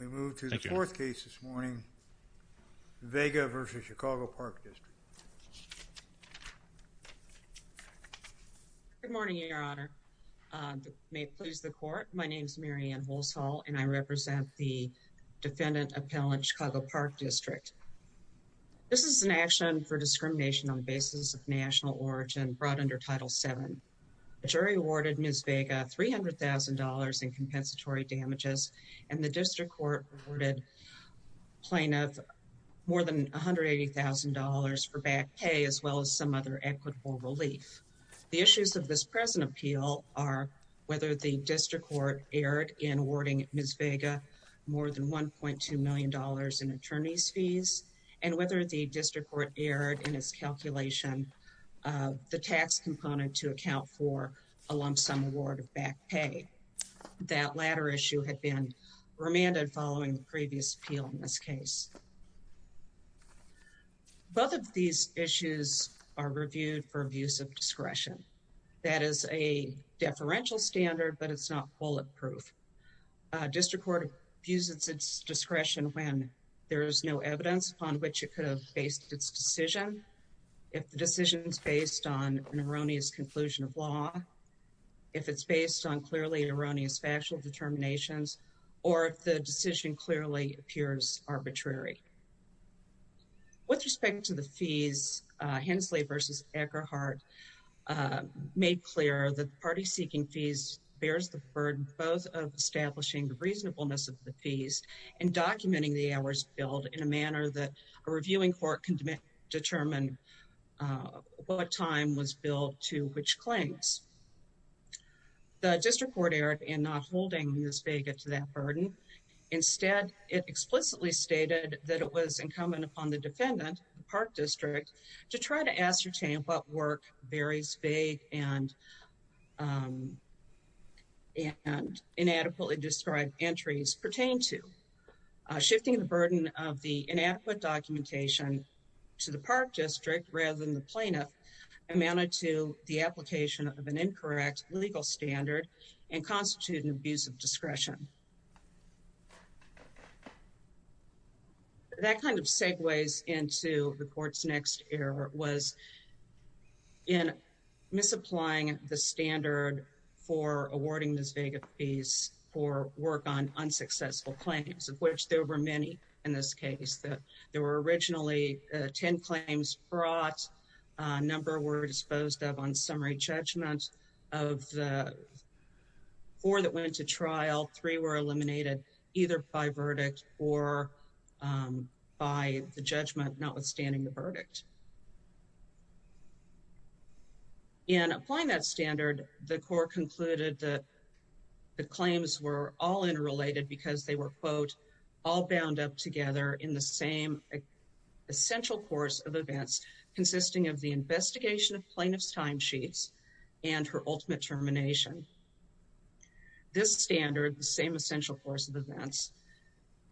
We move to the fourth case this morning, Vega v. Chicago Park District. Good morning, Your Honor. May it please the court, my name is Marianne Holshall and I represent the defendant appellant, Chicago Park District. This is an action for discrimination on the basis of national origin brought under Title VII. The jury awarded Ms. Vega $300,000 in compensatory damages and the district court awarded plaintiff more than $180,000 for back pay as well as some other equitable relief. The issues of this present appeal are whether the district court erred in awarding Ms. Vega more than $1.2 million in attorney's fees and whether the district court erred in its calculation of the tax component to account for a lump sum award of back pay. That latter issue had been remanded following the previous appeal in this case. Both of these issues are reviewed for abuse of discretion. That is a deferential standard, but it's not bulletproof. District court abuses its discretion when there is no evidence upon which it could have based its decision, if the decision is based on an erroneous conclusion of law, if it's based on clearly erroneous factual determinations, or if the decision clearly appears arbitrary. With respect to the fees, Hensley v. Eckerhart made clear that the party seeking fees bears the burden both of establishing the reasonableness of the fees and documenting the hours billed in a manner that a reviewing court can determine what time was billed to which claims. The district court erred in not holding Ms. Vega to that burden. Instead, it explicitly stated that it was incumbent upon the defendant, the Park District, to try to ascertain what work various vague and inadequately described entries pertain to. Shifting the burden of the inadequate documentation to the Park District rather than the plaintiff amounted to the application of an incorrect legal standard and constituted an abuse of discretion. That kind of segues into the court's next error, was in misapplying the standard for awarding Ms. Vega fees for work on unsuccessful claims, of which there were many in this case. There were originally 10 claims brought. A number were disposed of on summary judgment. Of the four that went to trial, three were eliminated either by verdict or by the judgment notwithstanding the verdict. In applying that standard, the court concluded that the claims were all interrelated because they were, quote, all bound up together in the same essential course of events consisting of the investigation of plaintiff's timesheets and her ultimate termination. This standard, the same essential course of events,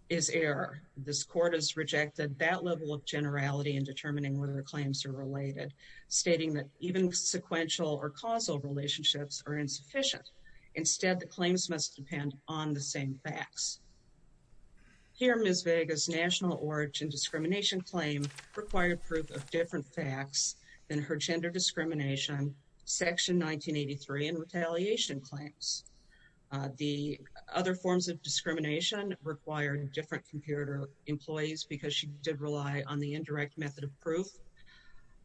is error. This court has rejected that level of generality in determining whether the claims are related, stating that even sequential or causal relationships are insufficient. Instead, the claims must depend on the same facts. Here, Ms. Vega's national origin discrimination claim required proof of different facts than her gender discrimination, section 1983, and retaliation claims. The other forms of discrimination required different computer employees because she did rely on the indirect method of proof.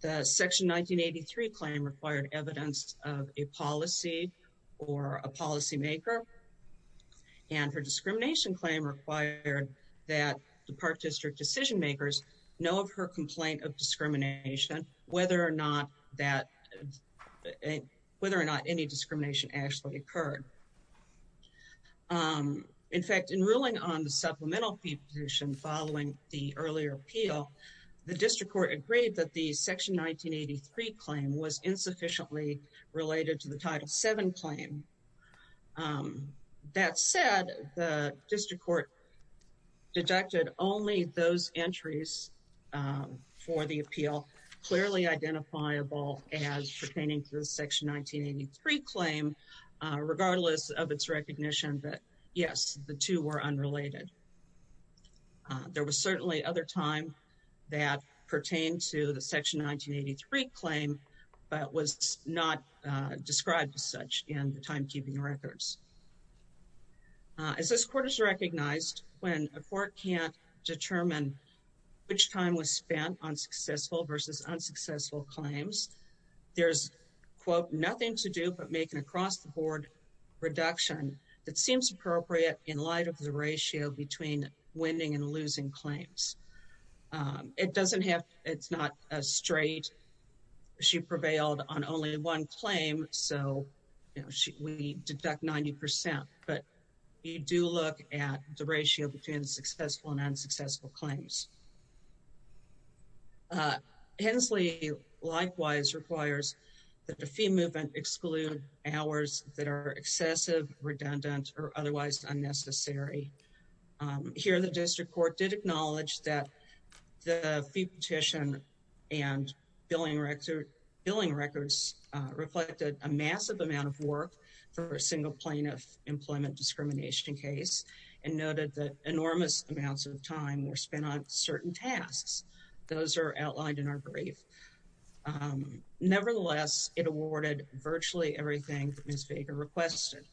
The section 1983 claim required evidence of a policy or a policymaker. And her discrimination claim required that the Park District decision makers know of her complaint of discrimination, whether or not that, whether or not any discrimination actually occurred. In fact, in ruling on the supplemental fee position following the earlier appeal, the district court agreed that the section 1983 claim was insufficiently related to the Title VII claim. That said, the district court deducted only those entries for the appeal clearly identifiable as pertaining to the section 1983 claim, regardless of its recognition that, yes, the two were unrelated. There was certainly other time that pertained to the section 1983 claim, but was not described as such in the timekeeping records. As this court has recognized, when a court can't determine which time was spent on successful versus unsuccessful claims, there's, quote, nothing to do but make an across-the-board reduction that seems appropriate in light of the ratio between winning and losing claims. It doesn't have, it's not a straight, she prevailed on only one claim, so we deduct 90%, but you do look at the ratio between successful and unsuccessful claims. Hensley likewise requires that the fee movement exclude hours that are excessive, redundant, or otherwise unnecessary. Here, the district court did acknowledge that the fee petition and billing records reflected a massive amount of work for a single plaintiff employment discrimination case, and noted that enormous amounts of time were spent on certain tasks. Those are outlined in our brief. Nevertheless, it awarded virtually everything that Ms. Baker requested.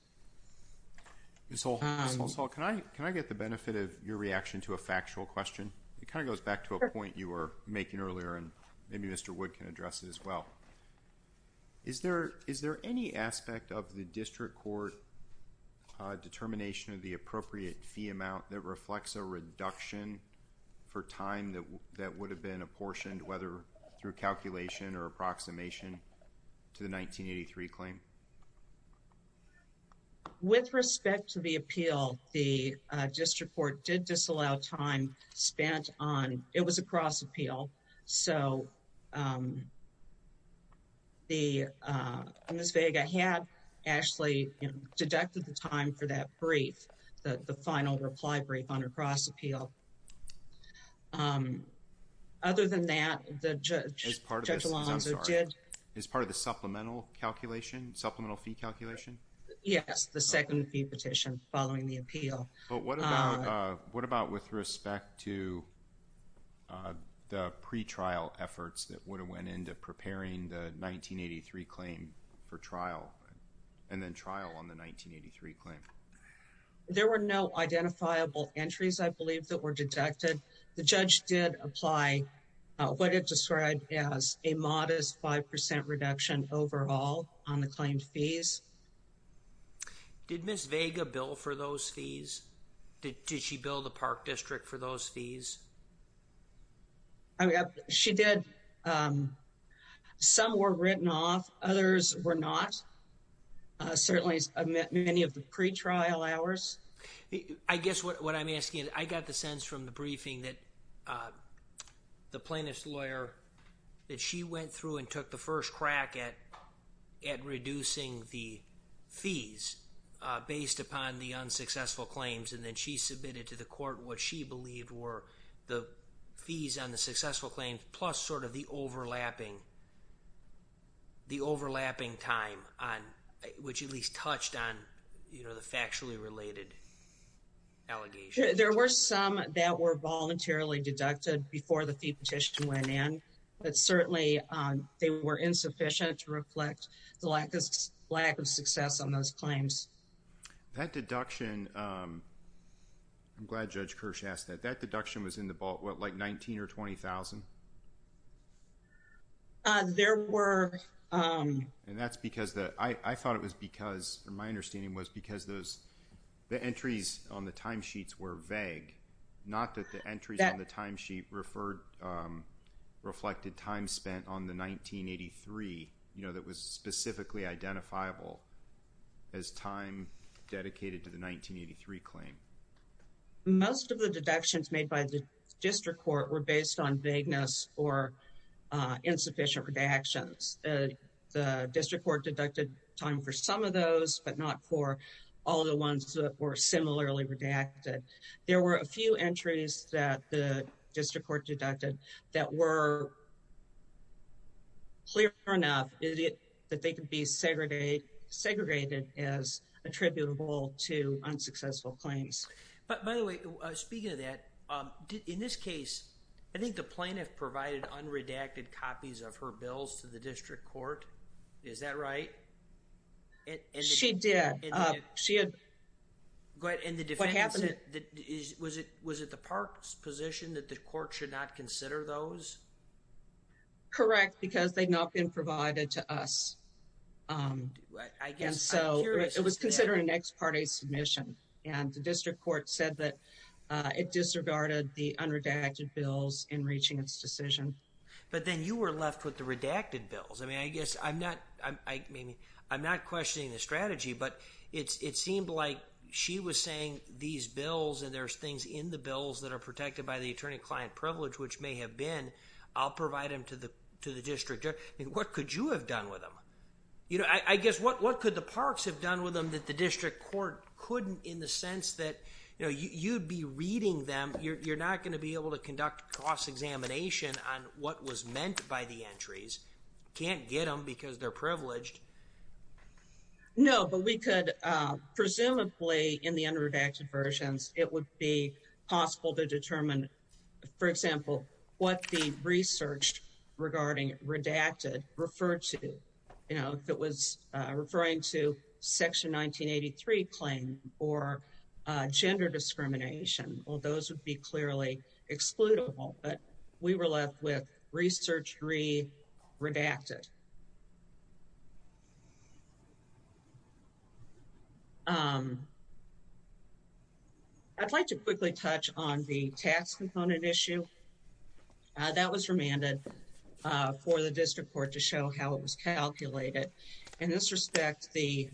Ms. Holsall, can I get the benefit of your reaction to a factual question? It kind of goes back to a point you were making earlier, and maybe Mr. Wood can address it as well. Is there any aspect of the district court determination of the appropriate fee amount that reflects a reduction for time that would have been apportioned, whether through calculation or approximation, to the 1983 claim? With respect to the appeal, the district court did disallow time spent on, it was a cross appeal, so Ms. Vega had actually deducted the time for that brief, the final reply brief on a cross appeal. Other than that, Judge Alonzo did... As part of the supplemental calculation, supplemental fee calculation? Yes, the second fee petition following the appeal. But what about with respect to the pretrial efforts that would have went into preparing the 1983 claim for trial, and then trial on the 1983 claim? There were no identifiable entries, I believe, that were deducted. The judge did apply what it described as a modest 5% reduction overall on the claimed fees. Did Ms. Vega bill for those fees? Did she bill the park district for those fees? She did. Some were written off, others were not, certainly many of the pretrial hours. I guess what I'm asking is, I got the sense from the briefing that the plaintiff's lawyer, that she went through and took the first crack at reducing the fees based upon the unsuccessful claims, and then she submitted to the court what she believed were the fees on the successful claims, plus sort of the overlapping time, which at least touched on the factually related allegations. There were some that were voluntarily deducted before the fee petition went in, but certainly they were insufficient to reflect the lack of success on those claims. That deduction, I'm glad Judge Kirsch asked that. That deduction was in the ball, what, like $19,000 or $20,000? And that's because, I thought it was because, or my understanding was because the entries on the timesheets were vague, not that the entries on the timesheet reflected time spent on the 1983, you know, that was specifically identifiable as time dedicated to the 1983 claim. Most of the deductions made by the district court were based on vagueness or insufficient redactions. The district court deducted time for some of those, but not for all the ones that were similarly redacted. There were a few entries that the district court deducted that were clear enough that they could be segregated as attributable to unsuccessful claims. But by the way, speaking of that, in this case, I think the plaintiff provided unredacted copies of her bills to the district court. Is that right? She did. And the defendant said, was it the park's position that the court should not consider those? Correct, because they had not been provided to us. And so, it was considered an ex parte submission. And the district court said that it disregarded the unredacted bills in reaching its decision. But then you were left with the redacted bills. I mean, I guess I'm not questioning the strategy, but it seemed like she was saying these bills and there's things in the bills that are protected by the attorney-client privilege, which may have been. I'll provide them to the district. What could you have done with them? You know, I guess what could the parks have done with them that the district court couldn't in the sense that, you know, you'd be reading them. You're not going to be able to conduct cross-examination on what was meant by the entries. Can't get them because they're privileged. No, but we could, presumably, in the unredacted versions, it would be possible to determine, for example, what the research regarding redacted referred to, you know, if it was referring to section 1983 claim or gender discrimination. Well, those would be clearly excludable, but we were left with research re-redacted. I'd like to quickly touch on the tax component issue. That was remanded for the district court to show how it was calculated. In this respect, the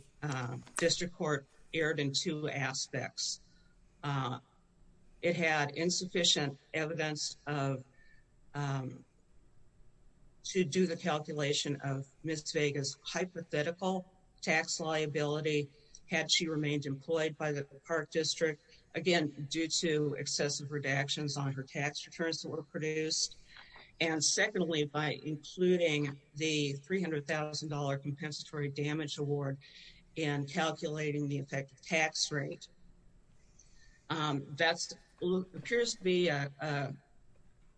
district court erred in two aspects. It had insufficient evidence to do the calculation of Ms. Vega's hypothetical tax liability had she remained employed by the park district, again, due to excessive redactions on her tax returns that were produced. And secondly, by including the $300,000 compensatory damage award in calculating the effective tax rate. That appears to be a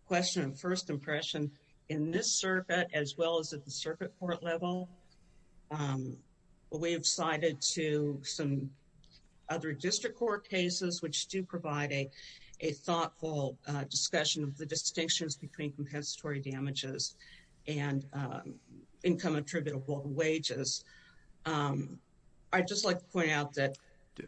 question of first impression in this circuit, as well as at the circuit court level. We have cited to some other district court cases, which do provide a thoughtful discussion of the distinctions between compensatory damages and income attributable wages. I'd just like to point out that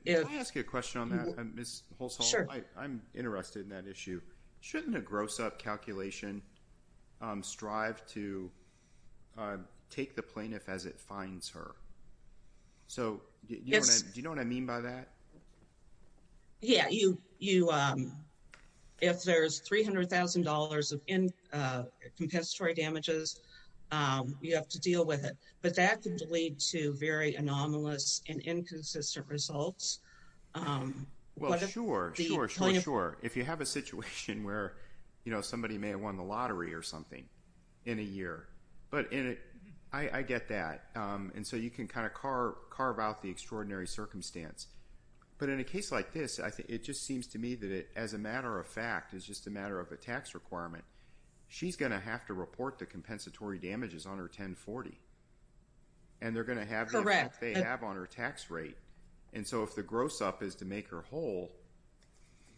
if I ask you a question on that, I'm interested in that issue. Shouldn't a gross up calculation strive to take the plaintiff as it finds her? So do you know what I mean by that? Yeah, if there's $300,000 of compensatory damages, you have to deal with it. But that could lead to very anomalous and inconsistent results. Well, sure, sure, sure, sure. If you have a situation where, you know, somebody may have won the lottery or something in a year, but I get that. And so you can kind of carve out the extraordinary circumstance. But in a case like this, it just seems to me that it, as a matter of fact, is just a matter of a tax requirement. She's going to have to report the compensatory damages on her 1040. And they're going to have that on her tax rate. And so if the gross up is to make her whole,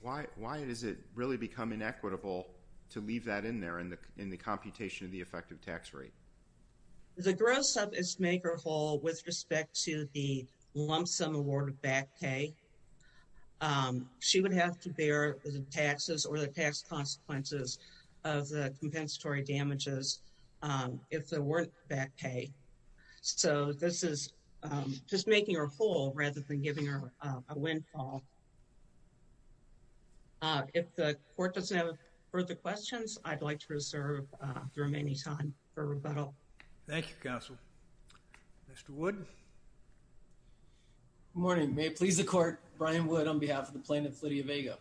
why does it really become inequitable to leave that in there in the computation of the effective tax rate? The gross up is to make her whole with respect to the lump sum award of back pay. She would have to bear the taxes or the tax consequences of the compensatory damages if there weren't back pay. So this is just making her whole rather than giving her a windfall. If the court doesn't have further questions, I'd like to reserve the remaining time for rebuttal. Thank you, Counsel. Mr. Wood. Good morning. May it please the court. Brian Wood on behalf of the plaintiff, Lydia Vega.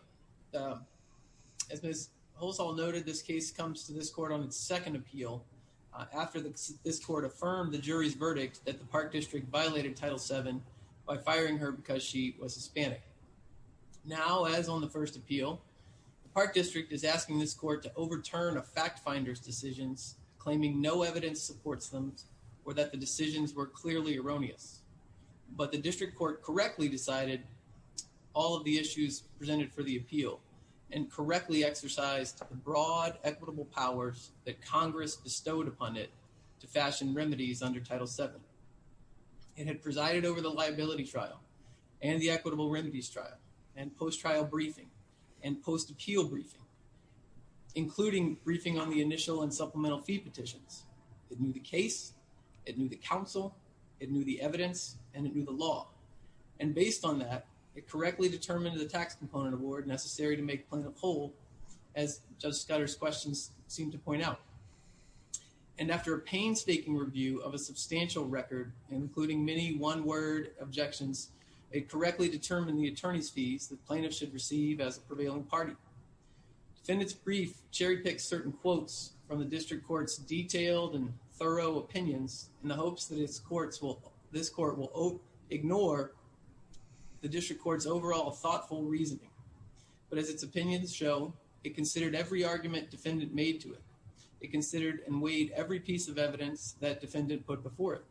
As Ms. Holzall noted, this case comes to this court on its second appeal after this court affirmed the jury's verdict that the Park District violated Title VII by firing her because she was Hispanic. Now, as on the first appeal, the Park District is asking this court to overturn a fact finder's decisions, claiming no evidence supports them or that the decisions were clearly erroneous. But the district court correctly decided all of the issues presented for the appeal and correctly exercised the broad equitable powers that Congress bestowed upon it to fashion remedies under Title VII. It had presided over the liability trial and the equitable remedies trial and post-trial briefing and post-appeal briefing, including briefing on the initial and supplemental fee petitions. It knew the case, it knew the counsel, it knew the evidence, and it knew the law. And based on that, it correctly determined the tax component award necessary to make plaintiff whole, as Judge Scudder's questions seem to point out. And after a painstaking review of a substantial record, including many one-word objections, it correctly determined the attorney's fees that plaintiffs should receive as a prevailing party. Defendant's brief cherry-picks certain quotes from the district court's detailed and thorough opinions in the hopes that this court will ignore the district court's overall thoughtful reasoning. But as its opinions show, it considered every argument defendant made to it. It considered and weighed every piece of evidence that defendant put before it.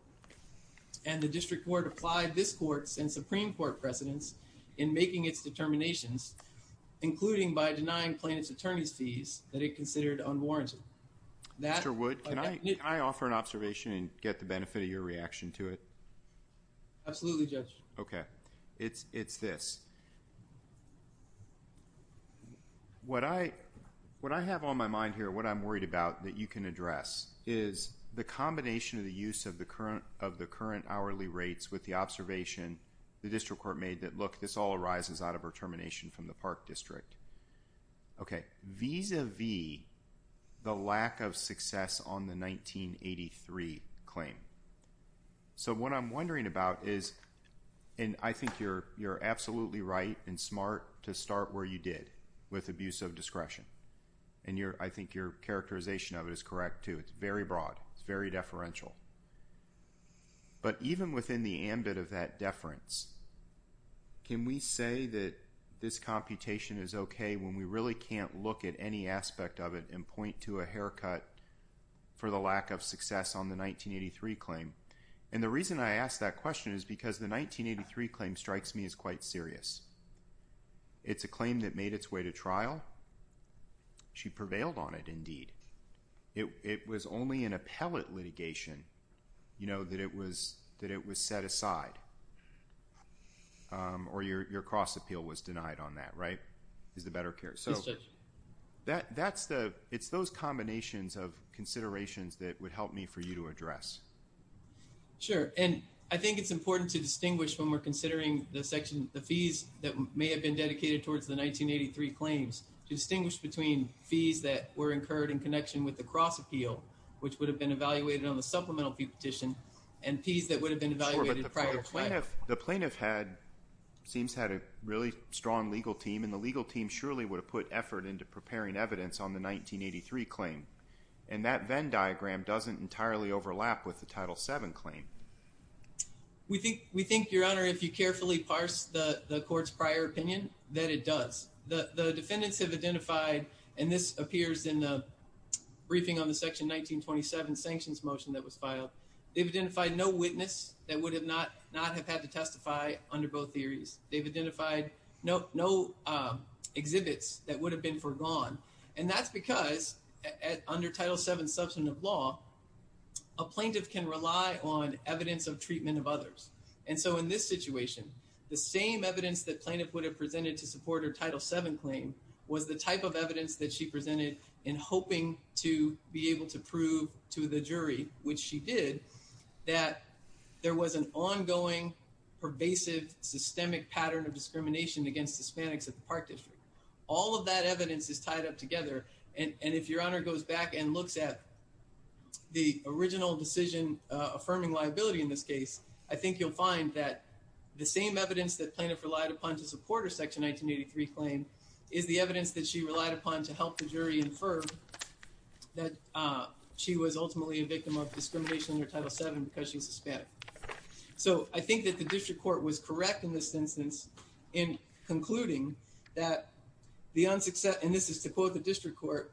And the district court applied this court's and Supreme Court precedents in making its determinations, including by denying plaintiff's attorney's fees that it considered unwarranted. Mr. Wood, can I offer an observation and get the benefit of your reaction to it? Absolutely, Judge. Okay. It's this. What I have on my mind here, what I'm worried about that you can address, is the combination of the use of the current hourly rates with the observation the district court made that, look, this all arises out of determination from the Park District. Okay. Vis-a-vis the lack of success on the 1983 claim. So what I'm wondering about is, and I think you're absolutely right and smart to start where you did, with abuse of discretion. And I think your characterization of it is correct, too. It's very broad. It's very deferential. But even within the ambit of that deference, can we say that this computation is okay when we really can't look at any aspect of it and point to a haircut for the lack of success on the 1983 claim? And the reason I ask that question is because the 1983 claim strikes me as quite serious. It's a claim that made its way to trial. She prevailed on it, indeed. It was only in appellate litigation, you know, that it was set aside. Or your cross-appeal was denied on that, right? Is the better case? Yes, Judge. It's those combinations of considerations that would help me for you to address. Sure. And I think it's important to distinguish when we're considering the section, the fees that may have been dedicated towards the 1983 claims. Distinguish between fees that were incurred in connection with the cross-appeal, which would have been evaluated on the supplemental fee petition, and fees that would have been evaluated prior to that. Sure, but the plaintiff seems to have had a really strong legal team, and the legal team surely would have put effort into preparing evidence on the 1983 claim. And that Venn diagram doesn't entirely overlap with the Title VII claim. We think, Your Honor, if you carefully parse the court's prior opinion, that it does. The defendants have identified, and this appears in the briefing on the Section 1927 sanctions motion that was filed, they've identified no witness that would not have had to testify under both theories. They've identified no exhibits that would have been forgone. And that's because under Title VII substantive law, a plaintiff can rely on evidence of treatment of others. And so in this situation, the same evidence that plaintiff would have presented to support her Title VII claim was the type of evidence that she presented in hoping to be able to prove to the jury, which she did, that there was an ongoing, pervasive, systemic pattern of discrimination against Hispanics at the Park District. All of that evidence is tied up together. And if Your Honor goes back and looks at the original decision affirming liability in this case, I think you'll find that the same evidence that plaintiff relied upon to support her Section 1983 claim is the evidence that she relied upon to help the jury infer that she was ultimately a victim of discrimination under Title VII because she was Hispanic. So I think that the District Court was correct in this instance in concluding that the unsuccessful, and this is to quote the District Court,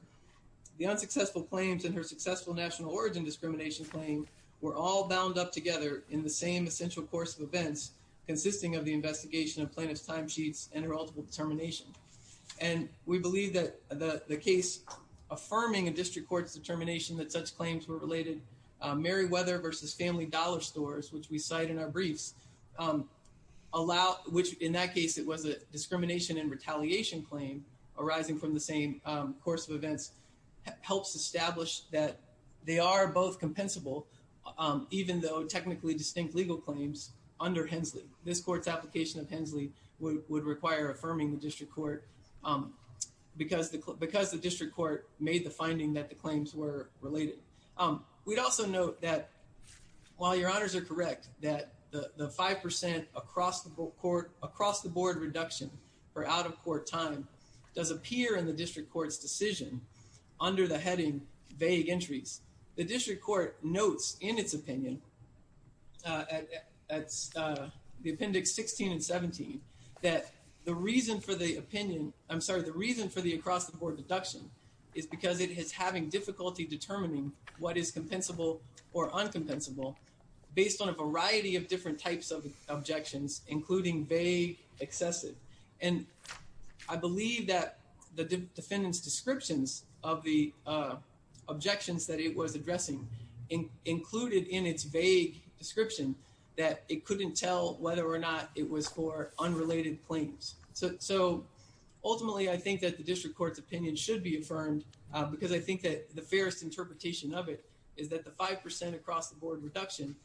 the unsuccessful claims in her successful national origin discrimination claim were all bound up together in the same essential course of events consisting of the investigation of plaintiff's timesheets and her ultimate determination. And we believe that the case affirming a District Court's determination that such claims were related, Meriwether v. Family Dollar Stores, which we cite in our briefs, which in that case it was a discrimination and retaliation claim arising from the same course of events, helps establish that they are both compensable, even though technically distinct legal claims under Hensley. This Court's application of Hensley would require affirming the District Court because the District Court made the finding that the claims were related. We'd also note that, while your honors are correct, that the 5% across-the-board reduction for out-of-court time does appear in the District Court's decision under the heading vague entries. The District Court notes in its opinion, that's the appendix 16 and 17, that the reason for the opinion, I'm sorry, the reason for the across-the-board reduction is because it is having difficulty determining what is compensable or uncompensable based on a variety of different types of objections, including vague, excessive. And I believe that the defendant's descriptions of the objections that it was addressing included in its vague description that it couldn't tell whether or not it was for unrelated claims. So, ultimately, I think that the District Court's opinion should be affirmed because I think that the fairest interpretation of it is that the 5% across-the-board reduction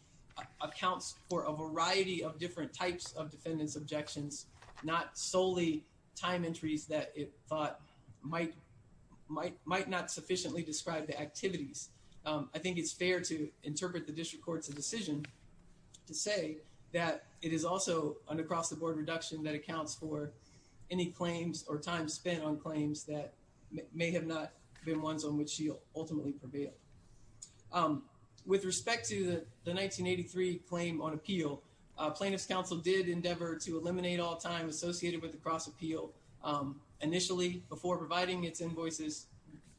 accounts for a variety of different types of defendants' objections, not solely time entries that it thought might not sufficiently describe the activities. I think it's fair to interpret the District Court's decision to say that it is also an across-the-board reduction that accounts for any claims or time spent on claims that may have not been ones on which she ultimately prevailed. With respect to the 1983 claim on appeal, plaintiff's counsel did endeavor to eliminate all time associated with the cross-appeal. Initially, before providing its invoices,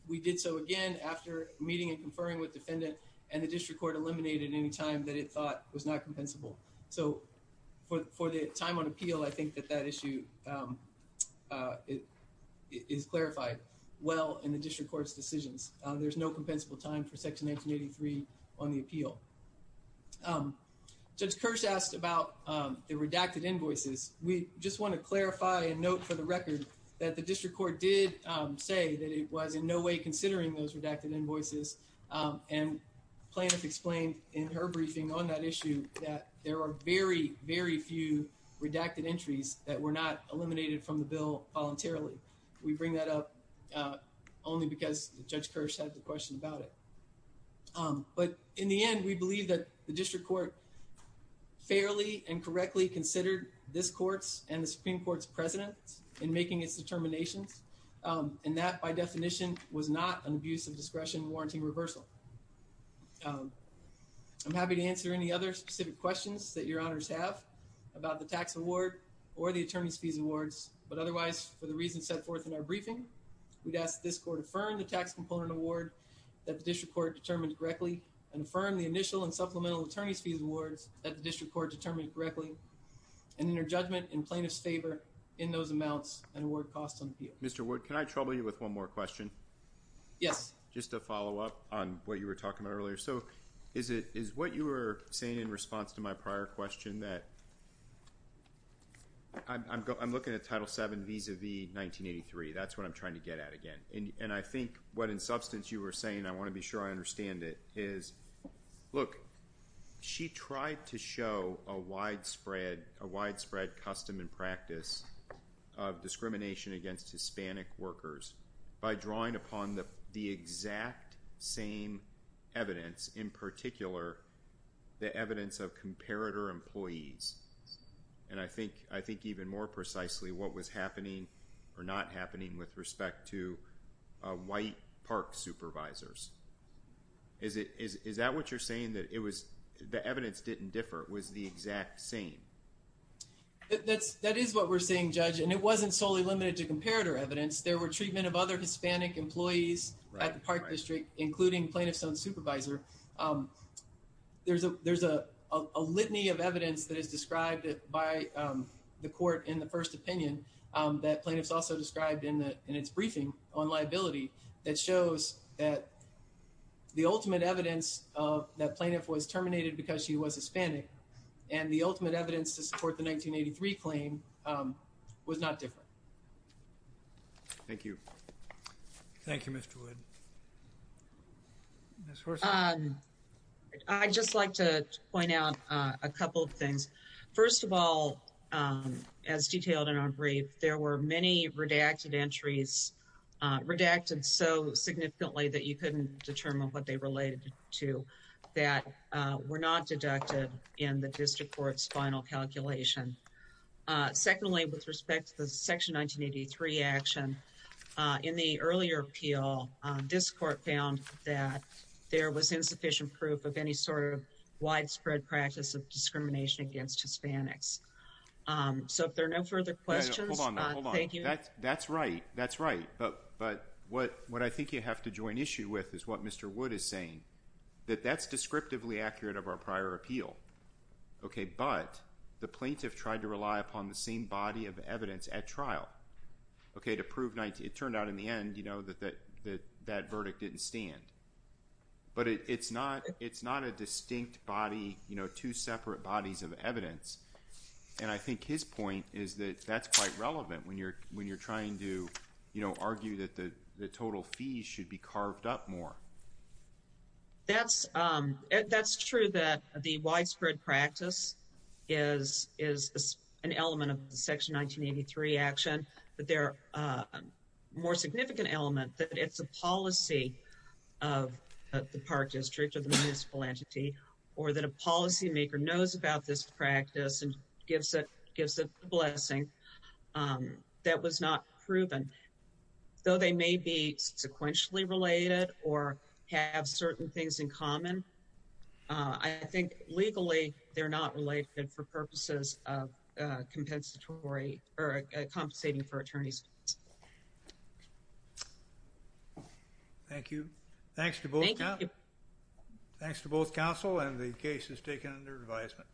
we did so again after meeting and conferring with defendant and the District Court eliminated any time that it thought was not compensable. So, for the time on appeal, I think that that issue is clarified well in the District Court's decisions. There's no compensable time for Section 1983 on the appeal. Judge Kirsch asked about the redacted invoices. We just want to clarify and note for the record that the District Court did say that it was in no way considering those redacted invoices and plaintiff explained in her briefing on that issue that there are very, very few redacted entries that were not eliminated from the bill voluntarily. We bring that up only because Judge Kirsch had the question about it. But in the end, we believe that the District Court fairly and correctly considered this Court's and the Supreme Court's presence in making its determinations and that, by definition, was not an abuse of discretion warranting reversal. I'm happy to answer any other specific questions that your honors have about the tax award or the attorney's fees awards, but otherwise, for the reasons set forth in our briefing, we'd ask this Court to affirm the tax component award that the District Court determined correctly and affirm the initial and supplemental attorney's fees awards that the District Court determined correctly and in her judgment in plaintiff's favor in those amounts and award costs on appeal. Mr. Wood, can I trouble you with one more question? Yes. Just to follow up on what you were talking about earlier. So, is what you were saying in response to my prior question that I'm looking at Title VII vis-à-vis 1983. That's what I'm trying to get at again. And I think what in substance you were saying, I want to be sure I understand it, is, look, she tried to show a widespread custom and practice of discrimination against Hispanic workers by drawing upon the exact same evidence, in particular, the evidence of comparator employees. And I think even more precisely, what was happening or not happening with respect to white park supervisors. Is that what you're saying, that the evidence didn't differ, it was the exact same? That is what we're saying, Judge. And it wasn't solely limited to comparator evidence. There were treatment of other Hispanic employees at the park district, including plaintiff's own supervisor. There's a litany of evidence that is described by the Court in the first opinion that plaintiff's also described in its briefing on liability that shows that the ultimate evidence that plaintiff was terminated because she was Hispanic and the ultimate evidence to support the 1983 claim was not different. Thank you. Thank you, Mr. Wood. Ms. Horson. I'd just like to point out a couple of things. First of all, as detailed in our brief, there were many redacted entries, redacted so significantly that you couldn't determine what they related to that were not deducted in the district court's final calculation. Secondly, with respect to the Section 1983 action, in the earlier appeal, this court found that there was insufficient proof of any sort of widespread practice of discrimination against Hispanics. So if there are no further questions, thank you. Hold on, hold on. That's right. That's right. But what I think you have to join issue with is what Mr. Wood is saying, that that's descriptively accurate of our prior appeal. But the plaintiff tried to rely upon the same body of evidence at trial to prove it turned out in the end that that verdict didn't stand. But it's not a distinct body, two separate bodies of evidence. And I think his point is that that's quite relevant when you're, when you're trying to, you know, argue that the total fees should be carved up more. That's, that's true that the widespread practice is, is an element of the Section 1983 action, but there are more significant element that it's a policy of the park district or the municipal entity, or that a policy maker knows about this practice and gives it, gives a blessing that was not proven, though they may be sequentially related or have certain things in common. I think legally they're not related for purposes of compensatory or compensating for attorneys. Thank you. Thanks to both. Council and the case is taken under advisement.